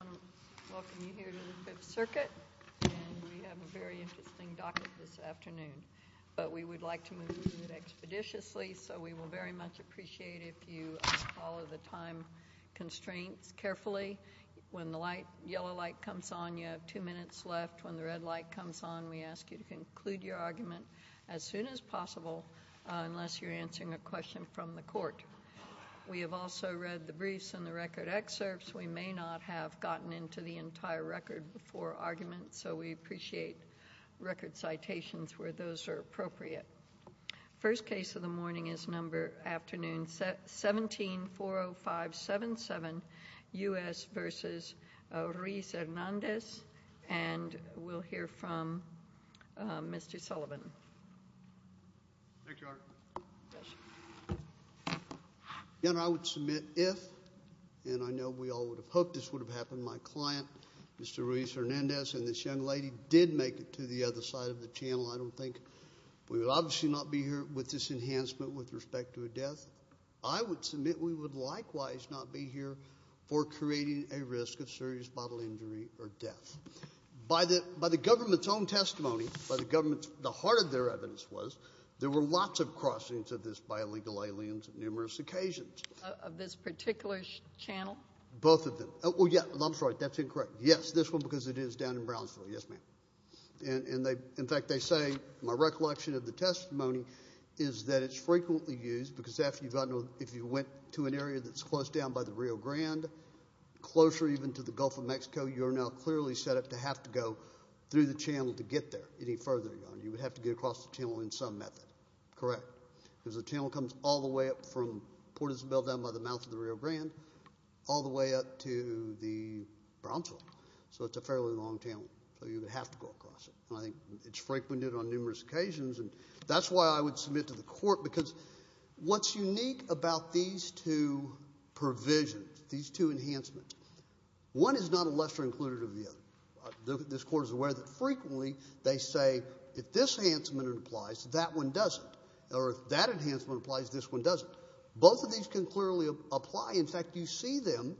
I want to welcome you here to the Fifth Circuit, and we have a very interesting docket this afternoon, but we would like to move it expeditiously, so we will very much appreciate if you follow the time constraints carefully. When the yellow light comes on, you have two minutes left. When the red light comes on, we ask you to conclude your argument as soon as possible, We have also read the briefs and the record excerpts. We may not have gotten into the entire record before argument, so we appreciate record citations where those are appropriate. First case of the morning is number 17-40577, U.S. v. Ruiz-Hernandez, and we'll hear from Mr. Sullivan. I would submit if, and I know we all would have hoped this would have happened, my client Mr. Ruiz-Hernandez and this young lady did make it to the other side of the channel. I don't think we would obviously not be here with this enhancement with respect to a death. I would submit we would likewise not be here for creating a risk of serious bodily injury or death. By the government's own testimony, by the government's, the heart of their evidence was there were lots of crossings of this by illegal aliens on numerous occasions. Of this particular channel? Both of them. Oh, well, yeah, I'm sorry, that's incorrect. Yes, this one because it is down in Brownsville. Yes, ma'am. And they, in fact, they say, my recollection of the testimony is that it's frequently used because if you went to an area that's close down by the Rio Grande, closer even to the Gulf of Mexico, you are now clearly set up to have to go through the channel to get there any further. You would have to get across the channel in some method. Correct. Because the channel comes all the way up from Port Isabel down by the mouth of the Rio Grande all the way up to the Brownsville. So it's a fairly long channel. So you would have to go across it. And I think it's frequented on numerous occasions. And that's why I would submit to the court because what's unique about these two provisions, these two enhancements, one is not a lesser included of the other. This Court is aware that frequently they say if this enhancement applies, that one doesn't, or if that enhancement applies, this one doesn't. Both of these can clearly apply. In fact, you see them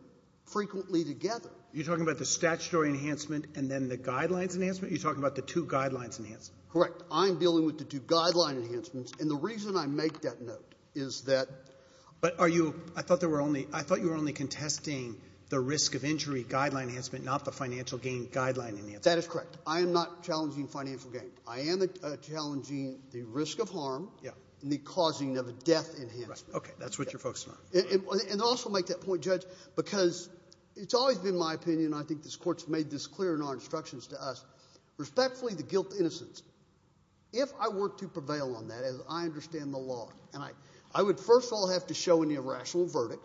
frequently together. You're talking about the statutory enhancement and then the guidelines enhancement? You're talking about the two guidelines enhancement? Correct. I'm dealing with the two guideline enhancements. And the reason I make that note is that — But are you—I thought you were only contesting the risk of injury guideline enhancement, not the financial gain guideline enhancement. That is correct. I am not challenging financial gain. I am challenging the risk of harm and the causing of death enhancement. Okay. That's what you're focusing on. And also make that point, Judge, because it's always been my opinion, and I think this Court's made this clear in our instructions to us, respectfully, the guilt to innocence. If I were to prevail on that, as I understand the law, I would first of all have to show an irrational verdict.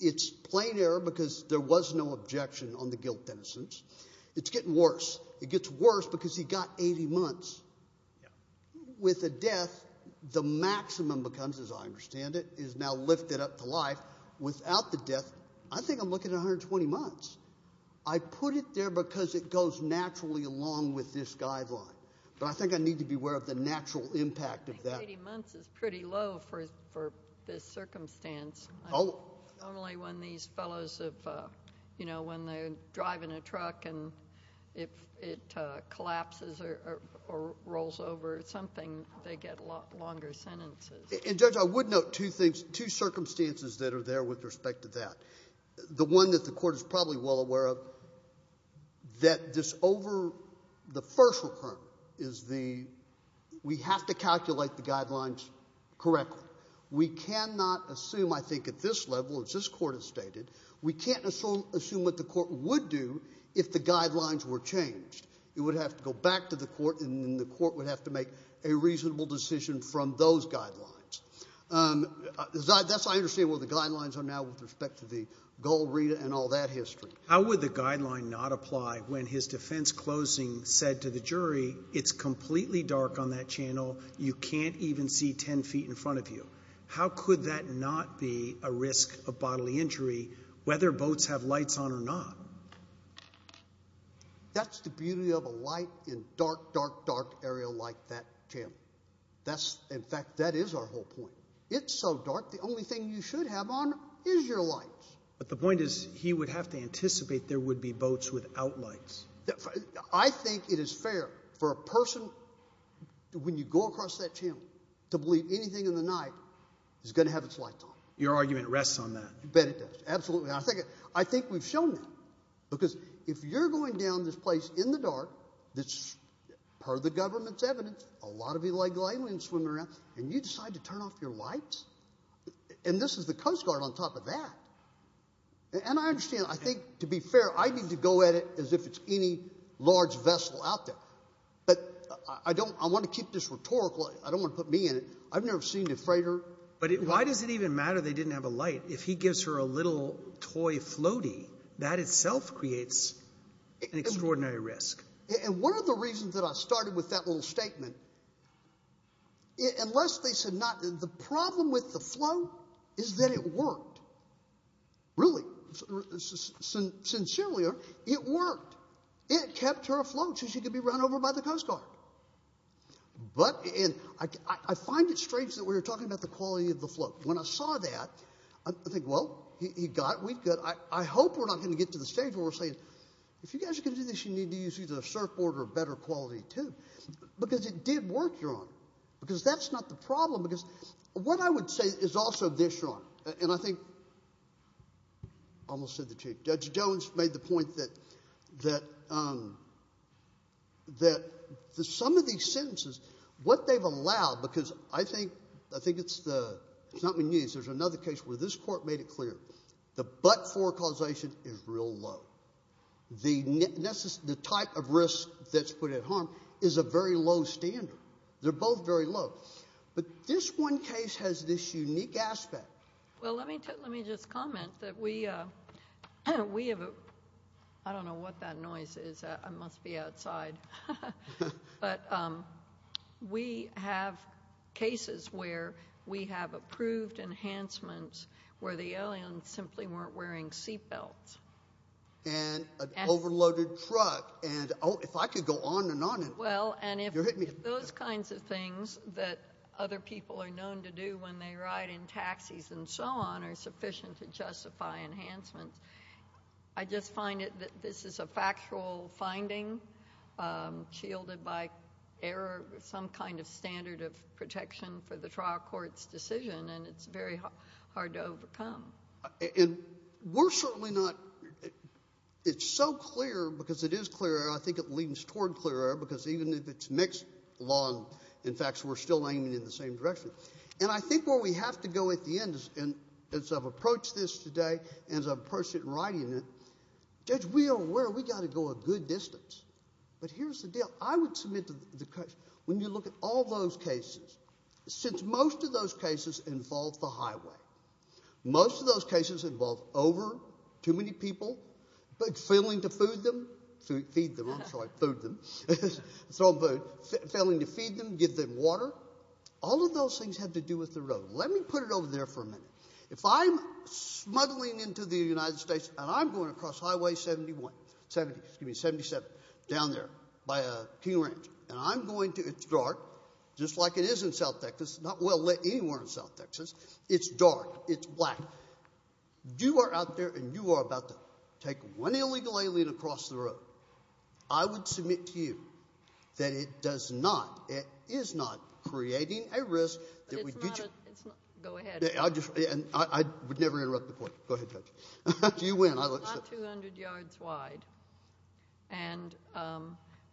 It's plain error because there was no objection on the guilt to innocence. It's getting worse. It gets worse because he got 80 months. With a death, the maximum becomes, as I understand it, is now lifted up to life. Without the death, I think I'm looking at 120 months. I put it there because it goes naturally along with this guideline. But I think I need to be aware of the natural impact of that. 80 months is pretty low for this circumstance. Oh. Normally when these fellows have, you know, when they're driving a truck and it collapses or rolls over or something, they get a lot longer sentences. And, Judge, I would note two circumstances that are there with respect to that. The one that the Court is probably well aware of, that this over the first is the we have to calculate the guidelines correctly. We cannot assume, I think, at this level, as this Court has stated, we can't assume what the Court would do if the guidelines were changed. It would have to go back to the Court, and then the Court would have to make a reasonable decision from those guidelines. That's how I understand what the guidelines are now with respect to the goal read and all that history. How would the guideline not apply when his defense closing said to the jury, it's completely dark on that channel, you can't even see 10 feet in front of you? How could that not be a risk of bodily injury whether boats have lights on or not? That's the beauty of a light in a dark, dark, dark area like that channel. In fact, that is our whole point. It's so dark, the only thing you should have on is your lights. But the point is he would have to anticipate there would be boats without lights. I think it is fair for a person, when you go across that channel, to believe anything in the night is going to have its lights on. Your argument rests on that. You bet it does. Absolutely. I think we've shown that because if you're going down this place in the dark, per the government's evidence, a lot of illegal aliens swimming around, and you decide to turn off your lights, and this is the Coast Guard on top of that. And I understand. I think, to be fair, I need to go at it as if it's any large vessel out there. But I want to keep this rhetorical. I don't want to put me in it. I've never seen a freighter. But why does it even matter they didn't have a light? If he gives her a little toy floaty, that itself creates an extraordinary risk. And one of the reasons that I started with that little statement, unless they said not, the problem with the float is that it worked. Really. Sincerely, it worked. It kept her afloat so she could be run over by the Coast Guard. But I find it strange that we're talking about the quality of the float. When I saw that, I think, well, he got it. I hope we're not going to get to the stage where we're saying, if you guys are going to do this, you need to use either a surfboard or a better quality tube. Because it did work, Your Honor. Because that's not the problem. Because what I would say is also this, Your Honor. And I think I almost said the truth. Judge Jones made the point that some of these sentences, what they've allowed, because I think it's not been used. There's another case where this court made it clear. The but-for causation is real low. The type of risk that's put at harm is a very low standard. They're both very low. But this one case has this unique aspect. Well, let me just comment that we have a – I don't know what that noise is. I must be outside. But we have cases where we have approved enhancements where the aliens simply weren't wearing seatbelts. And an overloaded truck. And, oh, if I could go on and on. Well, and if those kinds of things that other people are known to do when they ride in taxis and so on are sufficient to justify enhancements, I just find that this is a factual finding shielded by error, some kind of standard of protection for the trial court's decision, and it's very hard to overcome. And we're certainly not – it's so clear because it is clear. I think it leans toward clear error because even if it's mixed law and facts, we're still aiming in the same direction. And I think where we have to go at the end, and as I've approached this today and as I've approached it in writing, judge, we are aware we've got to go a good distance. But here's the deal. I would submit to the – when you look at all those cases, since most of those cases involve the highway, most of those cases involve over too many people, but failing to food them – feed them, I'm sorry, food them. It's not food. Failing to feed them, give them water. All of those things have to do with the road. Let me put it over there for a minute. If I'm smuggling into the United States and I'm going across Highway 71 – excuse me, 77 down there by King Ranch, and I'm going to – it's dark, just like it is in South Texas, not well lit anywhere in South Texas. It's dark. It's black. You are out there and you are about to take one illegal alien across the road. I would submit to you that it does not – it is not creating a risk. Go ahead. I would never interrupt the court. Go ahead, Judge. You win. It's not 200 yards wide. And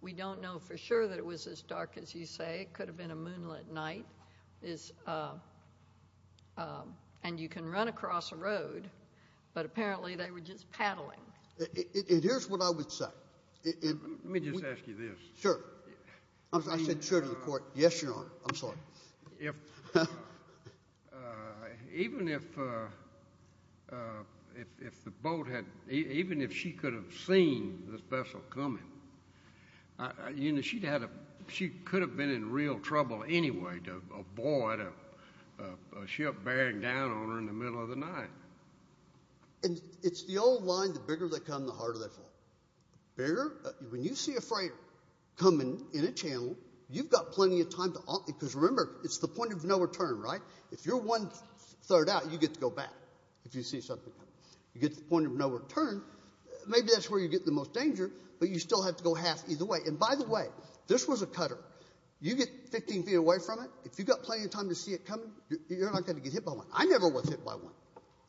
we don't know for sure that it was as dark as you say. It could have been a moonlit night. And you can run across a road, but apparently they were just paddling. Here's what I would say. Let me just ask you this. Sure. I said sure to the court. Yes, Your Honor. I'm sorry. Even if the boat had – even if she could have seen the vessel coming, she could have been in real trouble anyway to avoid a ship bearing down on her in the middle of the night. And it's the old line, the bigger they come, the harder they fall. When you see a freighter coming in a channel, you've got plenty of time to – because remember, it's the point of no return, right? If you're one-third out, you get to go back if you see something coming. You get to the point of no return, maybe that's where you get the most danger, but you still have to go half either way. And by the way, this was a cutter. You get 15 feet away from it, if you've got plenty of time to see it coming, you're not going to get hit by one. I never was hit by one.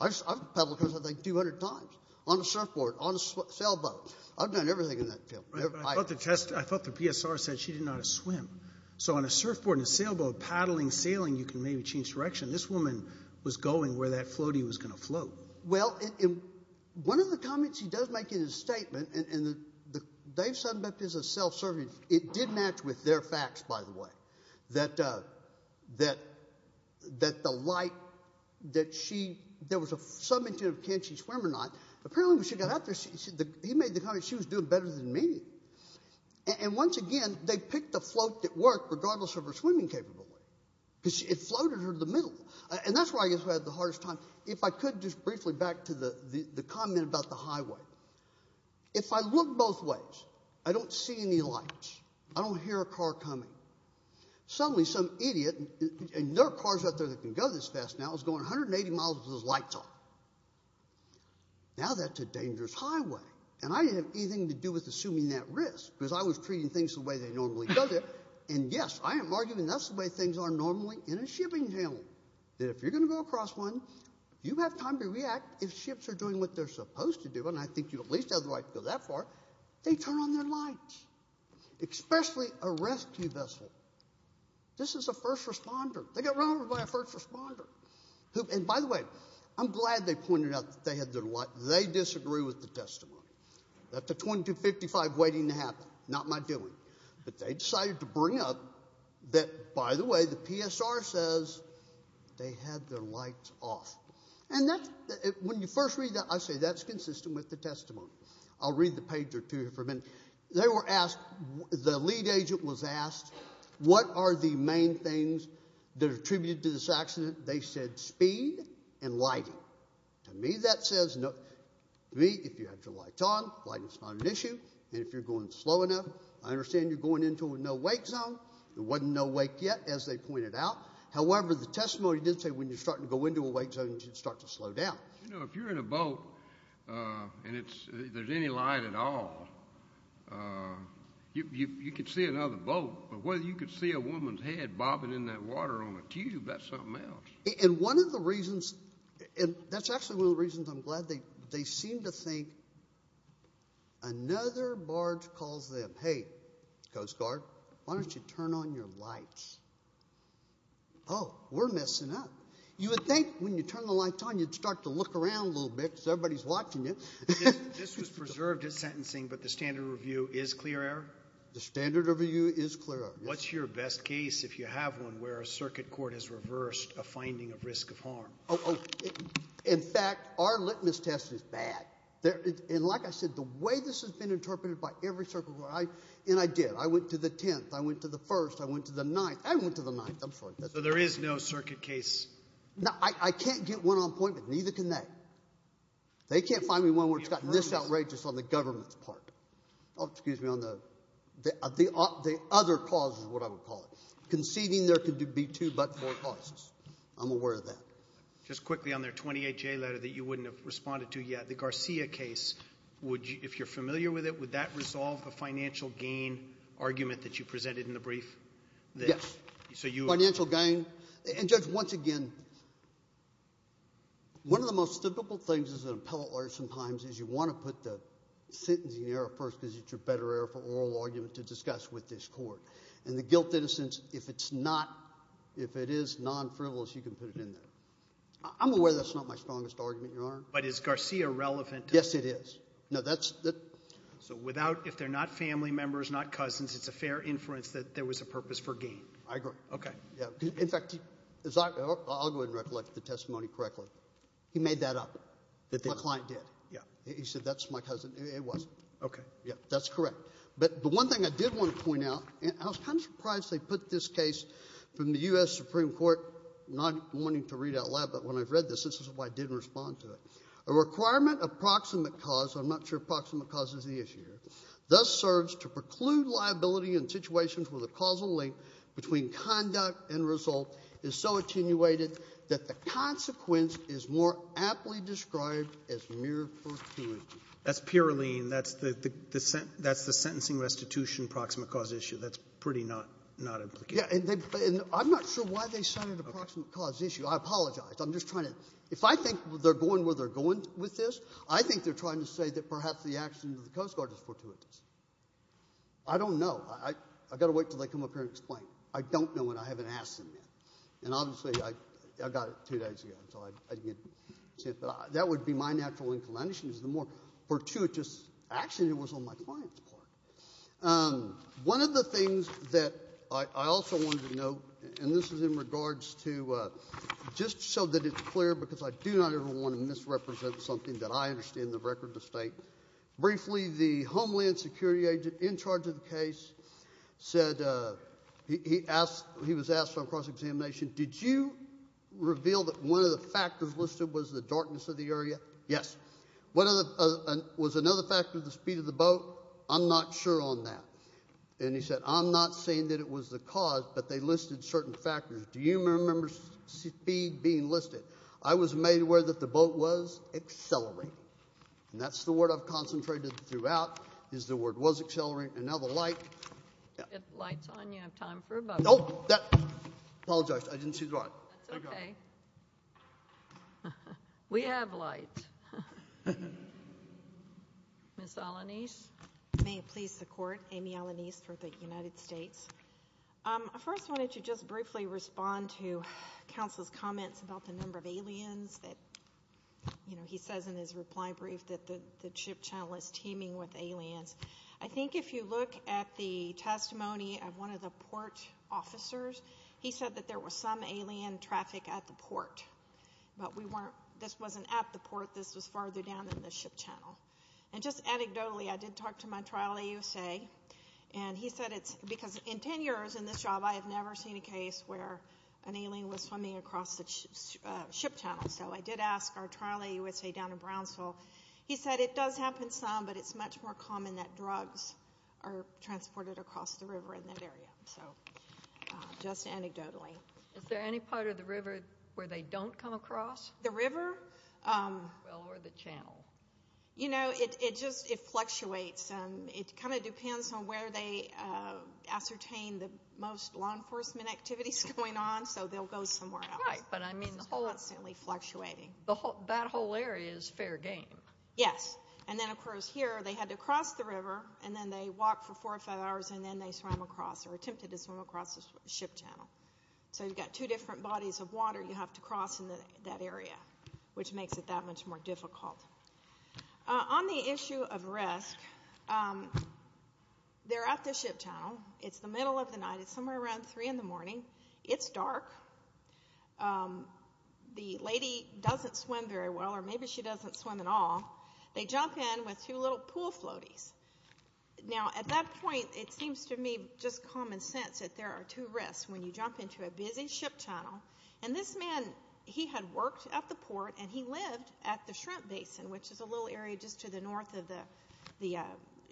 I've paddled across, I think, 200 times on a surfboard, on a sailboat. I've done everything in that field. I thought the PSR said she didn't know how to swim. So on a surfboard and a sailboat, paddling, sailing, you can maybe change direction. This woman was going where that floaty was going to float. Well, one of the comments he does make in his statement, and Dave Sunbeck is a self-serving – it did match with their facts, by the way, that the light that she – there was a – can she swim or not? Apparently when she got out there, he made the comment she was doing better than me. And once again, they picked a float that worked regardless of her swimming capability because it floated her to the middle. And that's where I guess I had the hardest time. If I could just briefly back to the comment about the highway. If I look both ways, I don't see any lights. I don't hear a car coming. Suddenly some idiot – and there are cars out there that can go this fast now – is going 180 miles with those lights on. Now that's a dangerous highway. And I didn't have anything to do with assuming that risk because I was treating things the way they normally go there. And, yes, I am arguing that's the way things are normally in a shipping channel, that if you're going to go across one, you have time to react. If ships are doing what they're supposed to do – and I think you at least have the right to go that far – they turn on their lights, especially a rescue vessel. This is a first responder. They got run over by a first responder. And, by the way, I'm glad they pointed out that they had their – they disagree with the testimony. That's a 2255 waiting to happen, not my doing. But they decided to bring up that, by the way, the PSR says they had their lights off. And when you first read that, I say that's consistent with the testimony. I'll read the page or two here for a minute. They were asked – the lead agent was asked, what are the main things that are attributed to this accident? They said speed and lighting. To me, that says – to me, if you have your lights on, lighting is not an issue. And if you're going slow enough, I understand you're going into a no-wake zone. There wasn't no wake yet, as they pointed out. However, the testimony did say when you're starting to go into a wake zone, you should start to slow down. You know, if you're in a boat and there's any light at all, you could see another boat. But whether you could see a woman's head bobbing in that water on a tube, that's something else. And one of the reasons – that's actually one of the reasons I'm glad they seemed to think another barge calls them, hey, Coast Guard, why don't you turn on your lights? Oh, we're messing up. You would think when you turn the lights on, you'd start to look around a little bit because everybody's watching you. This was preserved at sentencing, but the standard review is clear error? The standard review is clear error, yes. What's your best case if you have one where a circuit court has reversed a finding of risk of harm? Oh, in fact, our litmus test is bad. And like I said, the way this has been interpreted by every circuit court, and I did. I went to the 10th. I went to the 1st. I went to the 9th. I went to the 9th. I'm sorry. So there is no circuit case? No, I can't get one on point, but neither can they. They can't find me one where it's gotten this outrageous on the government's part. Oh, excuse me, on the other causes is what I would call it. Conceding there could be two but four causes. I'm aware of that. Just quickly on their 28-J letter that you wouldn't have responded to yet, the Garcia case, if you're familiar with it, would that resolve the financial gain argument that you presented in the brief? Yes, financial gain. And, Judge, once again, one of the most typical things as an appellate lawyer sometimes is you want to put the sentencing error first because it's your better error for oral argument to discuss with this court. And the guilt-innocence, if it is non-frivolous, you can put it in there. I'm aware that's not my strongest argument, Your Honor. But is Garcia relevant? Yes, it is. So if they're not family members, not cousins, it's a fair inference that there was a purpose for gain? I agree. Okay. In fact, I'll go ahead and recollect the testimony correctly. He made that up. My client did. Yeah. He said that's my cousin. It wasn't. Okay. Yeah, that's correct. But the one thing I did want to point out, and I was kind of surprised they put this case from the U.S. Supreme Court, not wanting to read out loud, but when I read this, this is why I didn't respond to it. A requirement of proximate cause, I'm not sure proximate cause is the issue here, thus serves to preclude liability in situations where the causal link between conduct and result is so attenuated that the consequence is more aptly described as mere fortuitous. That's pure lien. That's the sentencing restitution proximate cause issue. That's pretty not implicated. Yeah, and I'm not sure why they cited a proximate cause issue. I apologize. I'm just trying to — if I think they're going where they're going with this, I think they're trying to say that perhaps the action of the Coast Guard is fortuitous. I don't know. I've got to wait until they come up here and explain. I don't know, and I haven't asked them yet. And obviously I got it two days ago, so I didn't get to see it. But that would be my natural inclination is the more fortuitous action that was on my client's part. One of the things that I also wanted to note, and this is in regards to just so that it's clear, because I do not ever want to misrepresent something that I understand the record to state. Briefly, the homeland security agent in charge of the case said he was asked on cross-examination, did you reveal that one of the factors listed was the darkness of the area? Yes. Was another factor the speed of the boat? I'm not sure on that. And he said, I'm not saying that it was the cause, but they listed certain factors. Do you remember speed being listed? I was made aware that the boat was accelerating. And that's the word I've concentrated throughout is the word was accelerating. And now the light. The light's on. You have time for a bubble. Oh, I apologize. I didn't see the light. That's okay. We have light. Ms. Alanis. May it please the Court, Amy Alanis for the United States. I first wanted to just briefly respond to counsel's comments about the number of aliens that, you know, he says in his reply brief that the ship channel is teeming with aliens. I think if you look at the testimony of one of the port officers, he said that there was some alien traffic at the port. But this wasn't at the port. This was farther down than the ship channel. And just anecdotally, I did talk to my trial AUSA, and he said it's because in 10 years in this job, I have never seen a case where an alien was swimming across the ship channel. So I did ask our trial AUSA down in Brownsville. He said it does happen some, but it's much more common that drugs are transported across the river in that area. So just anecdotally. Is there any part of the river where they don't come across? The river? Well, or the channel. You know, it just fluctuates. It kind of depends on where they ascertain the most law enforcement activities going on, so they'll go somewhere else. Right. This is constantly fluctuating. That whole area is fair game. Yes. And then, of course, here they had to cross the river, and then they walked for four or five hours, and then they swam across or attempted to swim across the ship channel. So you've got two different bodies of water you have to cross in that area, which makes it that much more difficult. On the issue of risk, they're at the ship channel. It's the middle of the night. It's somewhere around 3 in the morning. It's dark. The lady doesn't swim very well, or maybe she doesn't swim at all. They jump in with two little pool floaties. Now, at that point, it seems to me just common sense that there are two risks when you jump into a busy ship channel. And this man, he had worked at the port, and he lived at the shrimp basin, which is a little area just to the north of the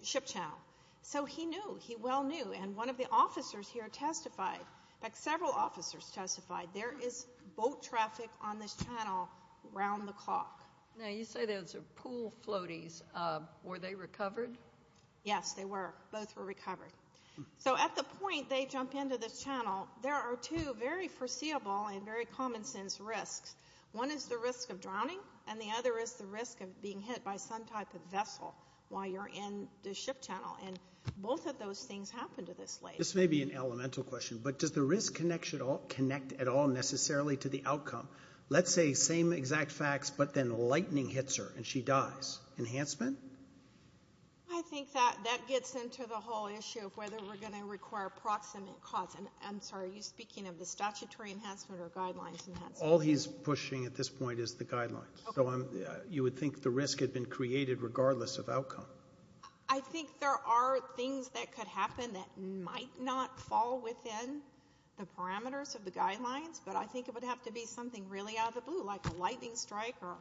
ship channel. So he knew. He well knew. And one of the officers here testified. In fact, several officers testified. There is boat traffic on this channel around the clock. Now, you say those are pool floaties. Were they recovered? Yes, they were. Both were recovered. So at the point they jump into this channel, there are two very foreseeable and very common sense risks. One is the risk of drowning, and the other is the risk of being hit by some type of vessel while you're in the ship channel. And both of those things happen to this lady. This may be an elemental question, but does the risk connect at all necessarily to the outcome? Let's say same exact facts, but then lightning hits her and she dies. Enhancement? I think that gets into the whole issue of whether we're going to require proximate cause. And I'm sorry, are you speaking of the statutory enhancement or guidelines enhancement? All he's pushing at this point is the guidelines. So you would think the risk had been created regardless of outcome. I think there are things that could happen that might not fall within the parameters of the guidelines, but I think it would have to be something really out of the blue, like a lightning strike or,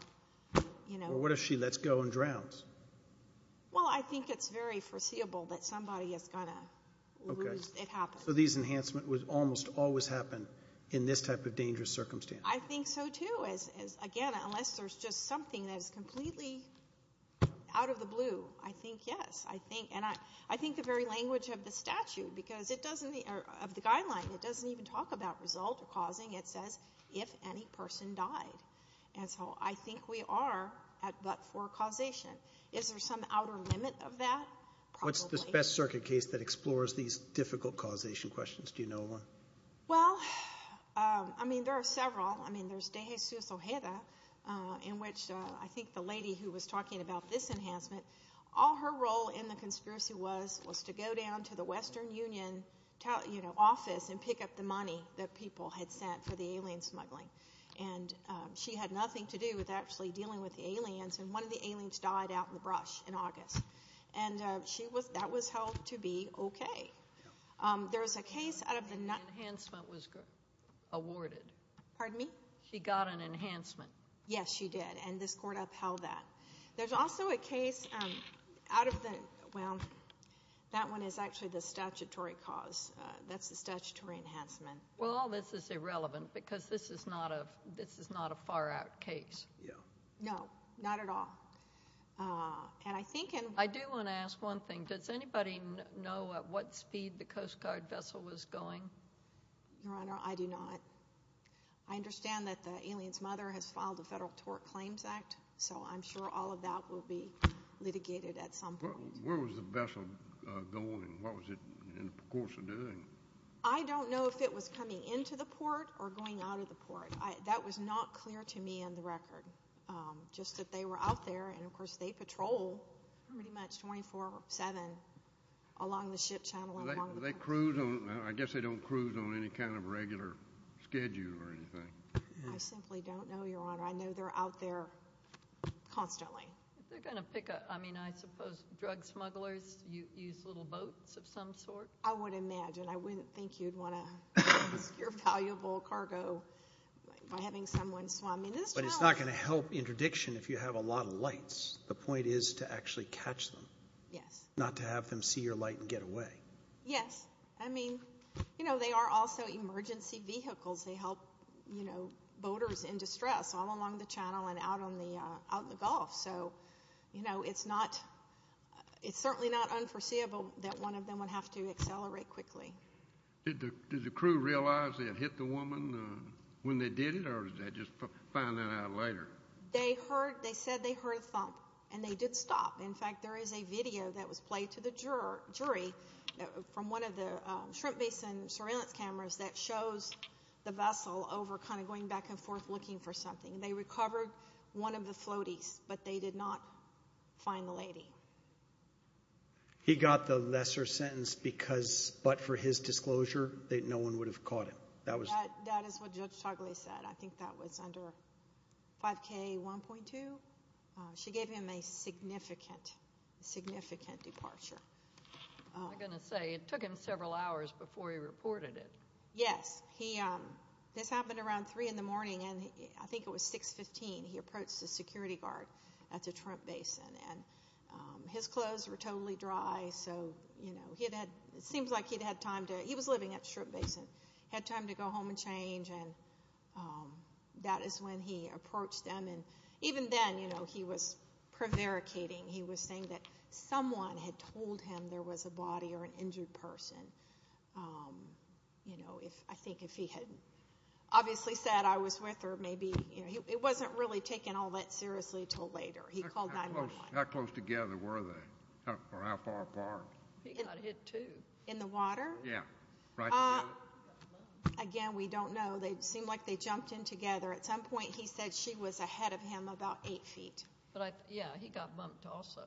you know. Or what if she lets go and drowns? Well, I think it's very foreseeable that somebody is going to lose. It happens. So these enhancements would almost always happen in this type of dangerous circumstance. I think so, too. Again, unless there's just something that is completely out of the blue. I think, yes. And I think the very language of the statute because it doesn't, of the guideline, it doesn't even talk about result or causing. It says if any person died. And so I think we are at but for causation. Is there some outer limit of that? What's the best circuit case that explores these difficult causation questions? Do you know one? Well, I mean, there are several. I mean, there's De Jesus Ojeda in which I think the lady who was talking about this enhancement, all her role in the conspiracy was to go down to the Western Union office and pick up the money that people had sent for the alien smuggling. And she had nothing to do with actually dealing with the aliens, and one of the aliens died out in the brush in August. And that was held to be okay. There was a case out of the- The enhancement was awarded. Pardon me? She got an enhancement. Yes, she did, and this court upheld that. There's also a case out of the, well, that one is actually the statutory cause. That's the statutory enhancement. Well, all this is irrelevant because this is not a far-out case. No, not at all. And I think in- I do want to ask one thing. Does anybody know at what speed the Coast Guard vessel was going? Your Honor, I do not. I understand that the alien's mother has filed a federal tort claims act, so I'm sure all of that will be litigated at some point. Where was the vessel going? What was it in the course of doing? I don't know if it was coming into the port or going out of the port. That was not clear to me on the record, just that they were out there, and, of course, they patrol pretty much 24-7 along the ship channel. Do they cruise? I guess they don't cruise on any kind of regular schedule or anything. I simply don't know, Your Honor. I know they're out there constantly. Are they going to pick a-I mean, I suppose drug smugglers use little boats of some sort? I would imagine. I wouldn't think you'd want to lose your valuable cargo by having someone swarming this channel. But it's not going to help interdiction if you have a lot of lights. The point is to actually catch them, not to have them see your light and get away. Yes. I mean, you know, they are also emergency vehicles. They help, you know, boaters in distress all along the channel and out in the Gulf. So, you know, it's certainly not unforeseeable that one of them would have to accelerate quickly. Did the crew realize they had hit the woman when they did it, or did they just find that out later? They said they heard a thump, and they did stop. In fact, there is a video that was played to the jury from one of the shrimp basin surveillance cameras that shows the vessel over kind of going back and forth looking for something. They recovered one of the floaties, but they did not find the lady. He got the lesser sentence because, but for his disclosure, that no one would have caught him. That is what Judge Togliatti said. I think that was under 5K1.2. She gave him a significant, significant departure. I was going to say, it took him several hours before he reported it. Yes. This happened around 3 in the morning, and I think it was 6.15. He approached the security guard at the shrimp basin, and his clothes were totally dry. So, you know, it seems like he was living at the shrimp basin. He had time to go home and change, and that is when he approached them. And even then, you know, he was prevaricating. He was saying that someone had told him there was a body or an injured person. You know, I think if he had obviously said, I was with her, maybe, you know, it was not really taken all that seriously until later. He called 911. How close together were they, or how far apart? He got hit, too. In the water? Yes. Right together? Again, we do not know. It seemed like they jumped in together. At some point, he said she was ahead of him about eight feet. Yes, he got bumped also.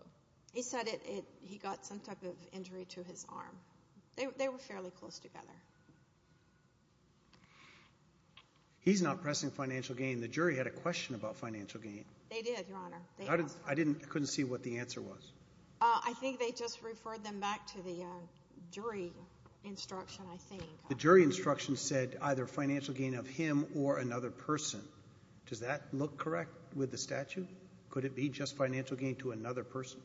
He said he got some type of injury to his arm. They were fairly close together. He's not pressing financial gain. The jury had a question about financial gain. They did, Your Honor. I couldn't see what the answer was. I think they just referred them back to the jury instruction, I think. The jury instruction said either financial gain of him or another person. Does that look correct with the statute? Could it be just financial gain to another person?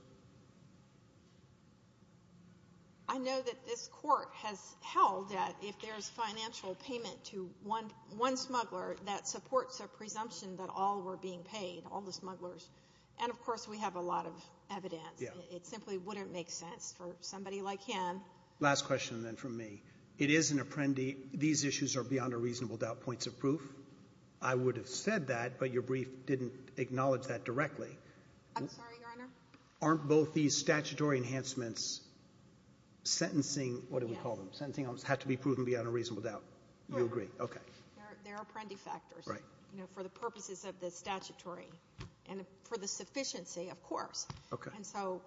I know that this court has held that if there's financial payment to one smuggler, that supports a presumption that all were being paid, all the smugglers. And, of course, we have a lot of evidence. It simply wouldn't make sense for somebody like him. Last question, then, from me. It is an apprendee. These issues are beyond a reasonable doubt points of proof. I would have said that, but your brief didn't acknowledge that directly. I'm sorry, Your Honor? Aren't both these statutory enhancements sentencing? What do we call them? Sentencing have to be proven beyond a reasonable doubt. You agree. Okay. There are apprendee factors. Right. You know, for the purposes of the statutory and for the sufficiency, of course. Okay. And so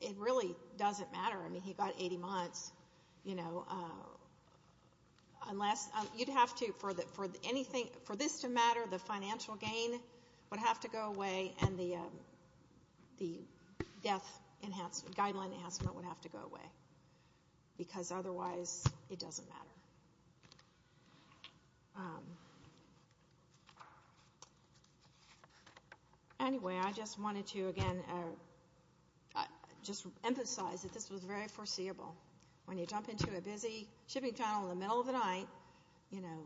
it really doesn't matter. I mean, he got 80 months, you know. Unless you'd have to, for this to matter, the financial gain would have to go away and the death enhancement, guideline enhancement would have to go away. Because otherwise it doesn't matter. Anyway, I just wanted to, again, just emphasize that this was very foreseeable. When you jump into a busy shipping channel in the middle of the night, you know,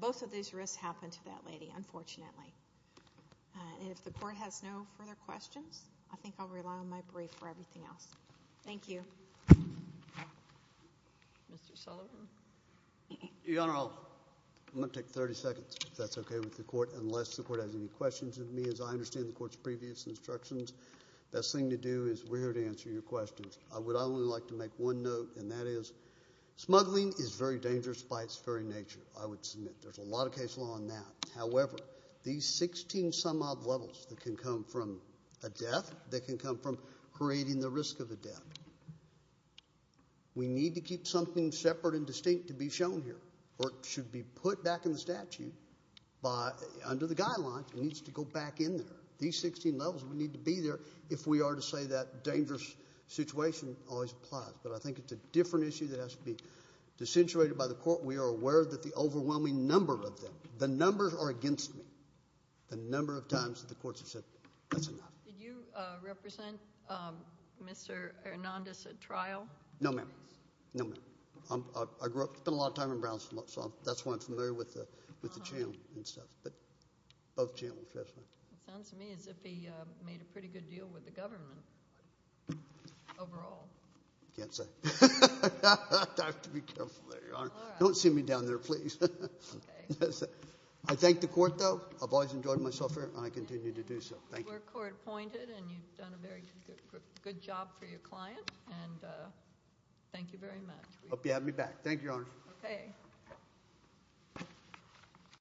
both of these risks happen to that lady, unfortunately. And if the Court has no further questions, I think I'll rely on my brief for everything else. Thank you. Mr. Sullivan? Your Honor, I'm going to take 30 seconds, if that's okay with the Court, unless the Court has any questions of me. As I understand the Court's previous instructions, the best thing to do is we're here to answer your questions. I would only like to make one note, and that is, smuggling is very dangerous by its very nature, I would submit. There's a lot of case law on that. However, these 16 some odd levels that can come from a death, that can come from creating the risk of a death, we need to keep something separate and distinct to be shown here. Or it should be put back in the statute under the guidelines. It needs to go back in there. These 16 levels would need to be there if we are to say that dangerous situation always applies. But I think it's a different issue that has to be accentuated by the Court. We are aware that the overwhelming number of them, the numbers are against me, the number of times that the Courts have said that's enough. Did you represent Mr. Hernandez at trial? No, ma'am. No, ma'am. I spent a lot of time in Brown, so that's why I'm familiar with the channel and stuff. But both channels, yes, ma'am. It sounds to me as if he made a pretty good deal with the government overall. I can't say. I have to be careful there, Your Honor. All right. Don't see me down there, please. Okay. I thank the Court, though. I've always enjoyed myself here, and I continue to do so. Thank you. We're court-appointed, and you've done a very good job for your client, and thank you very much. Hope you have me back. Thank you, Your Honor. Okay.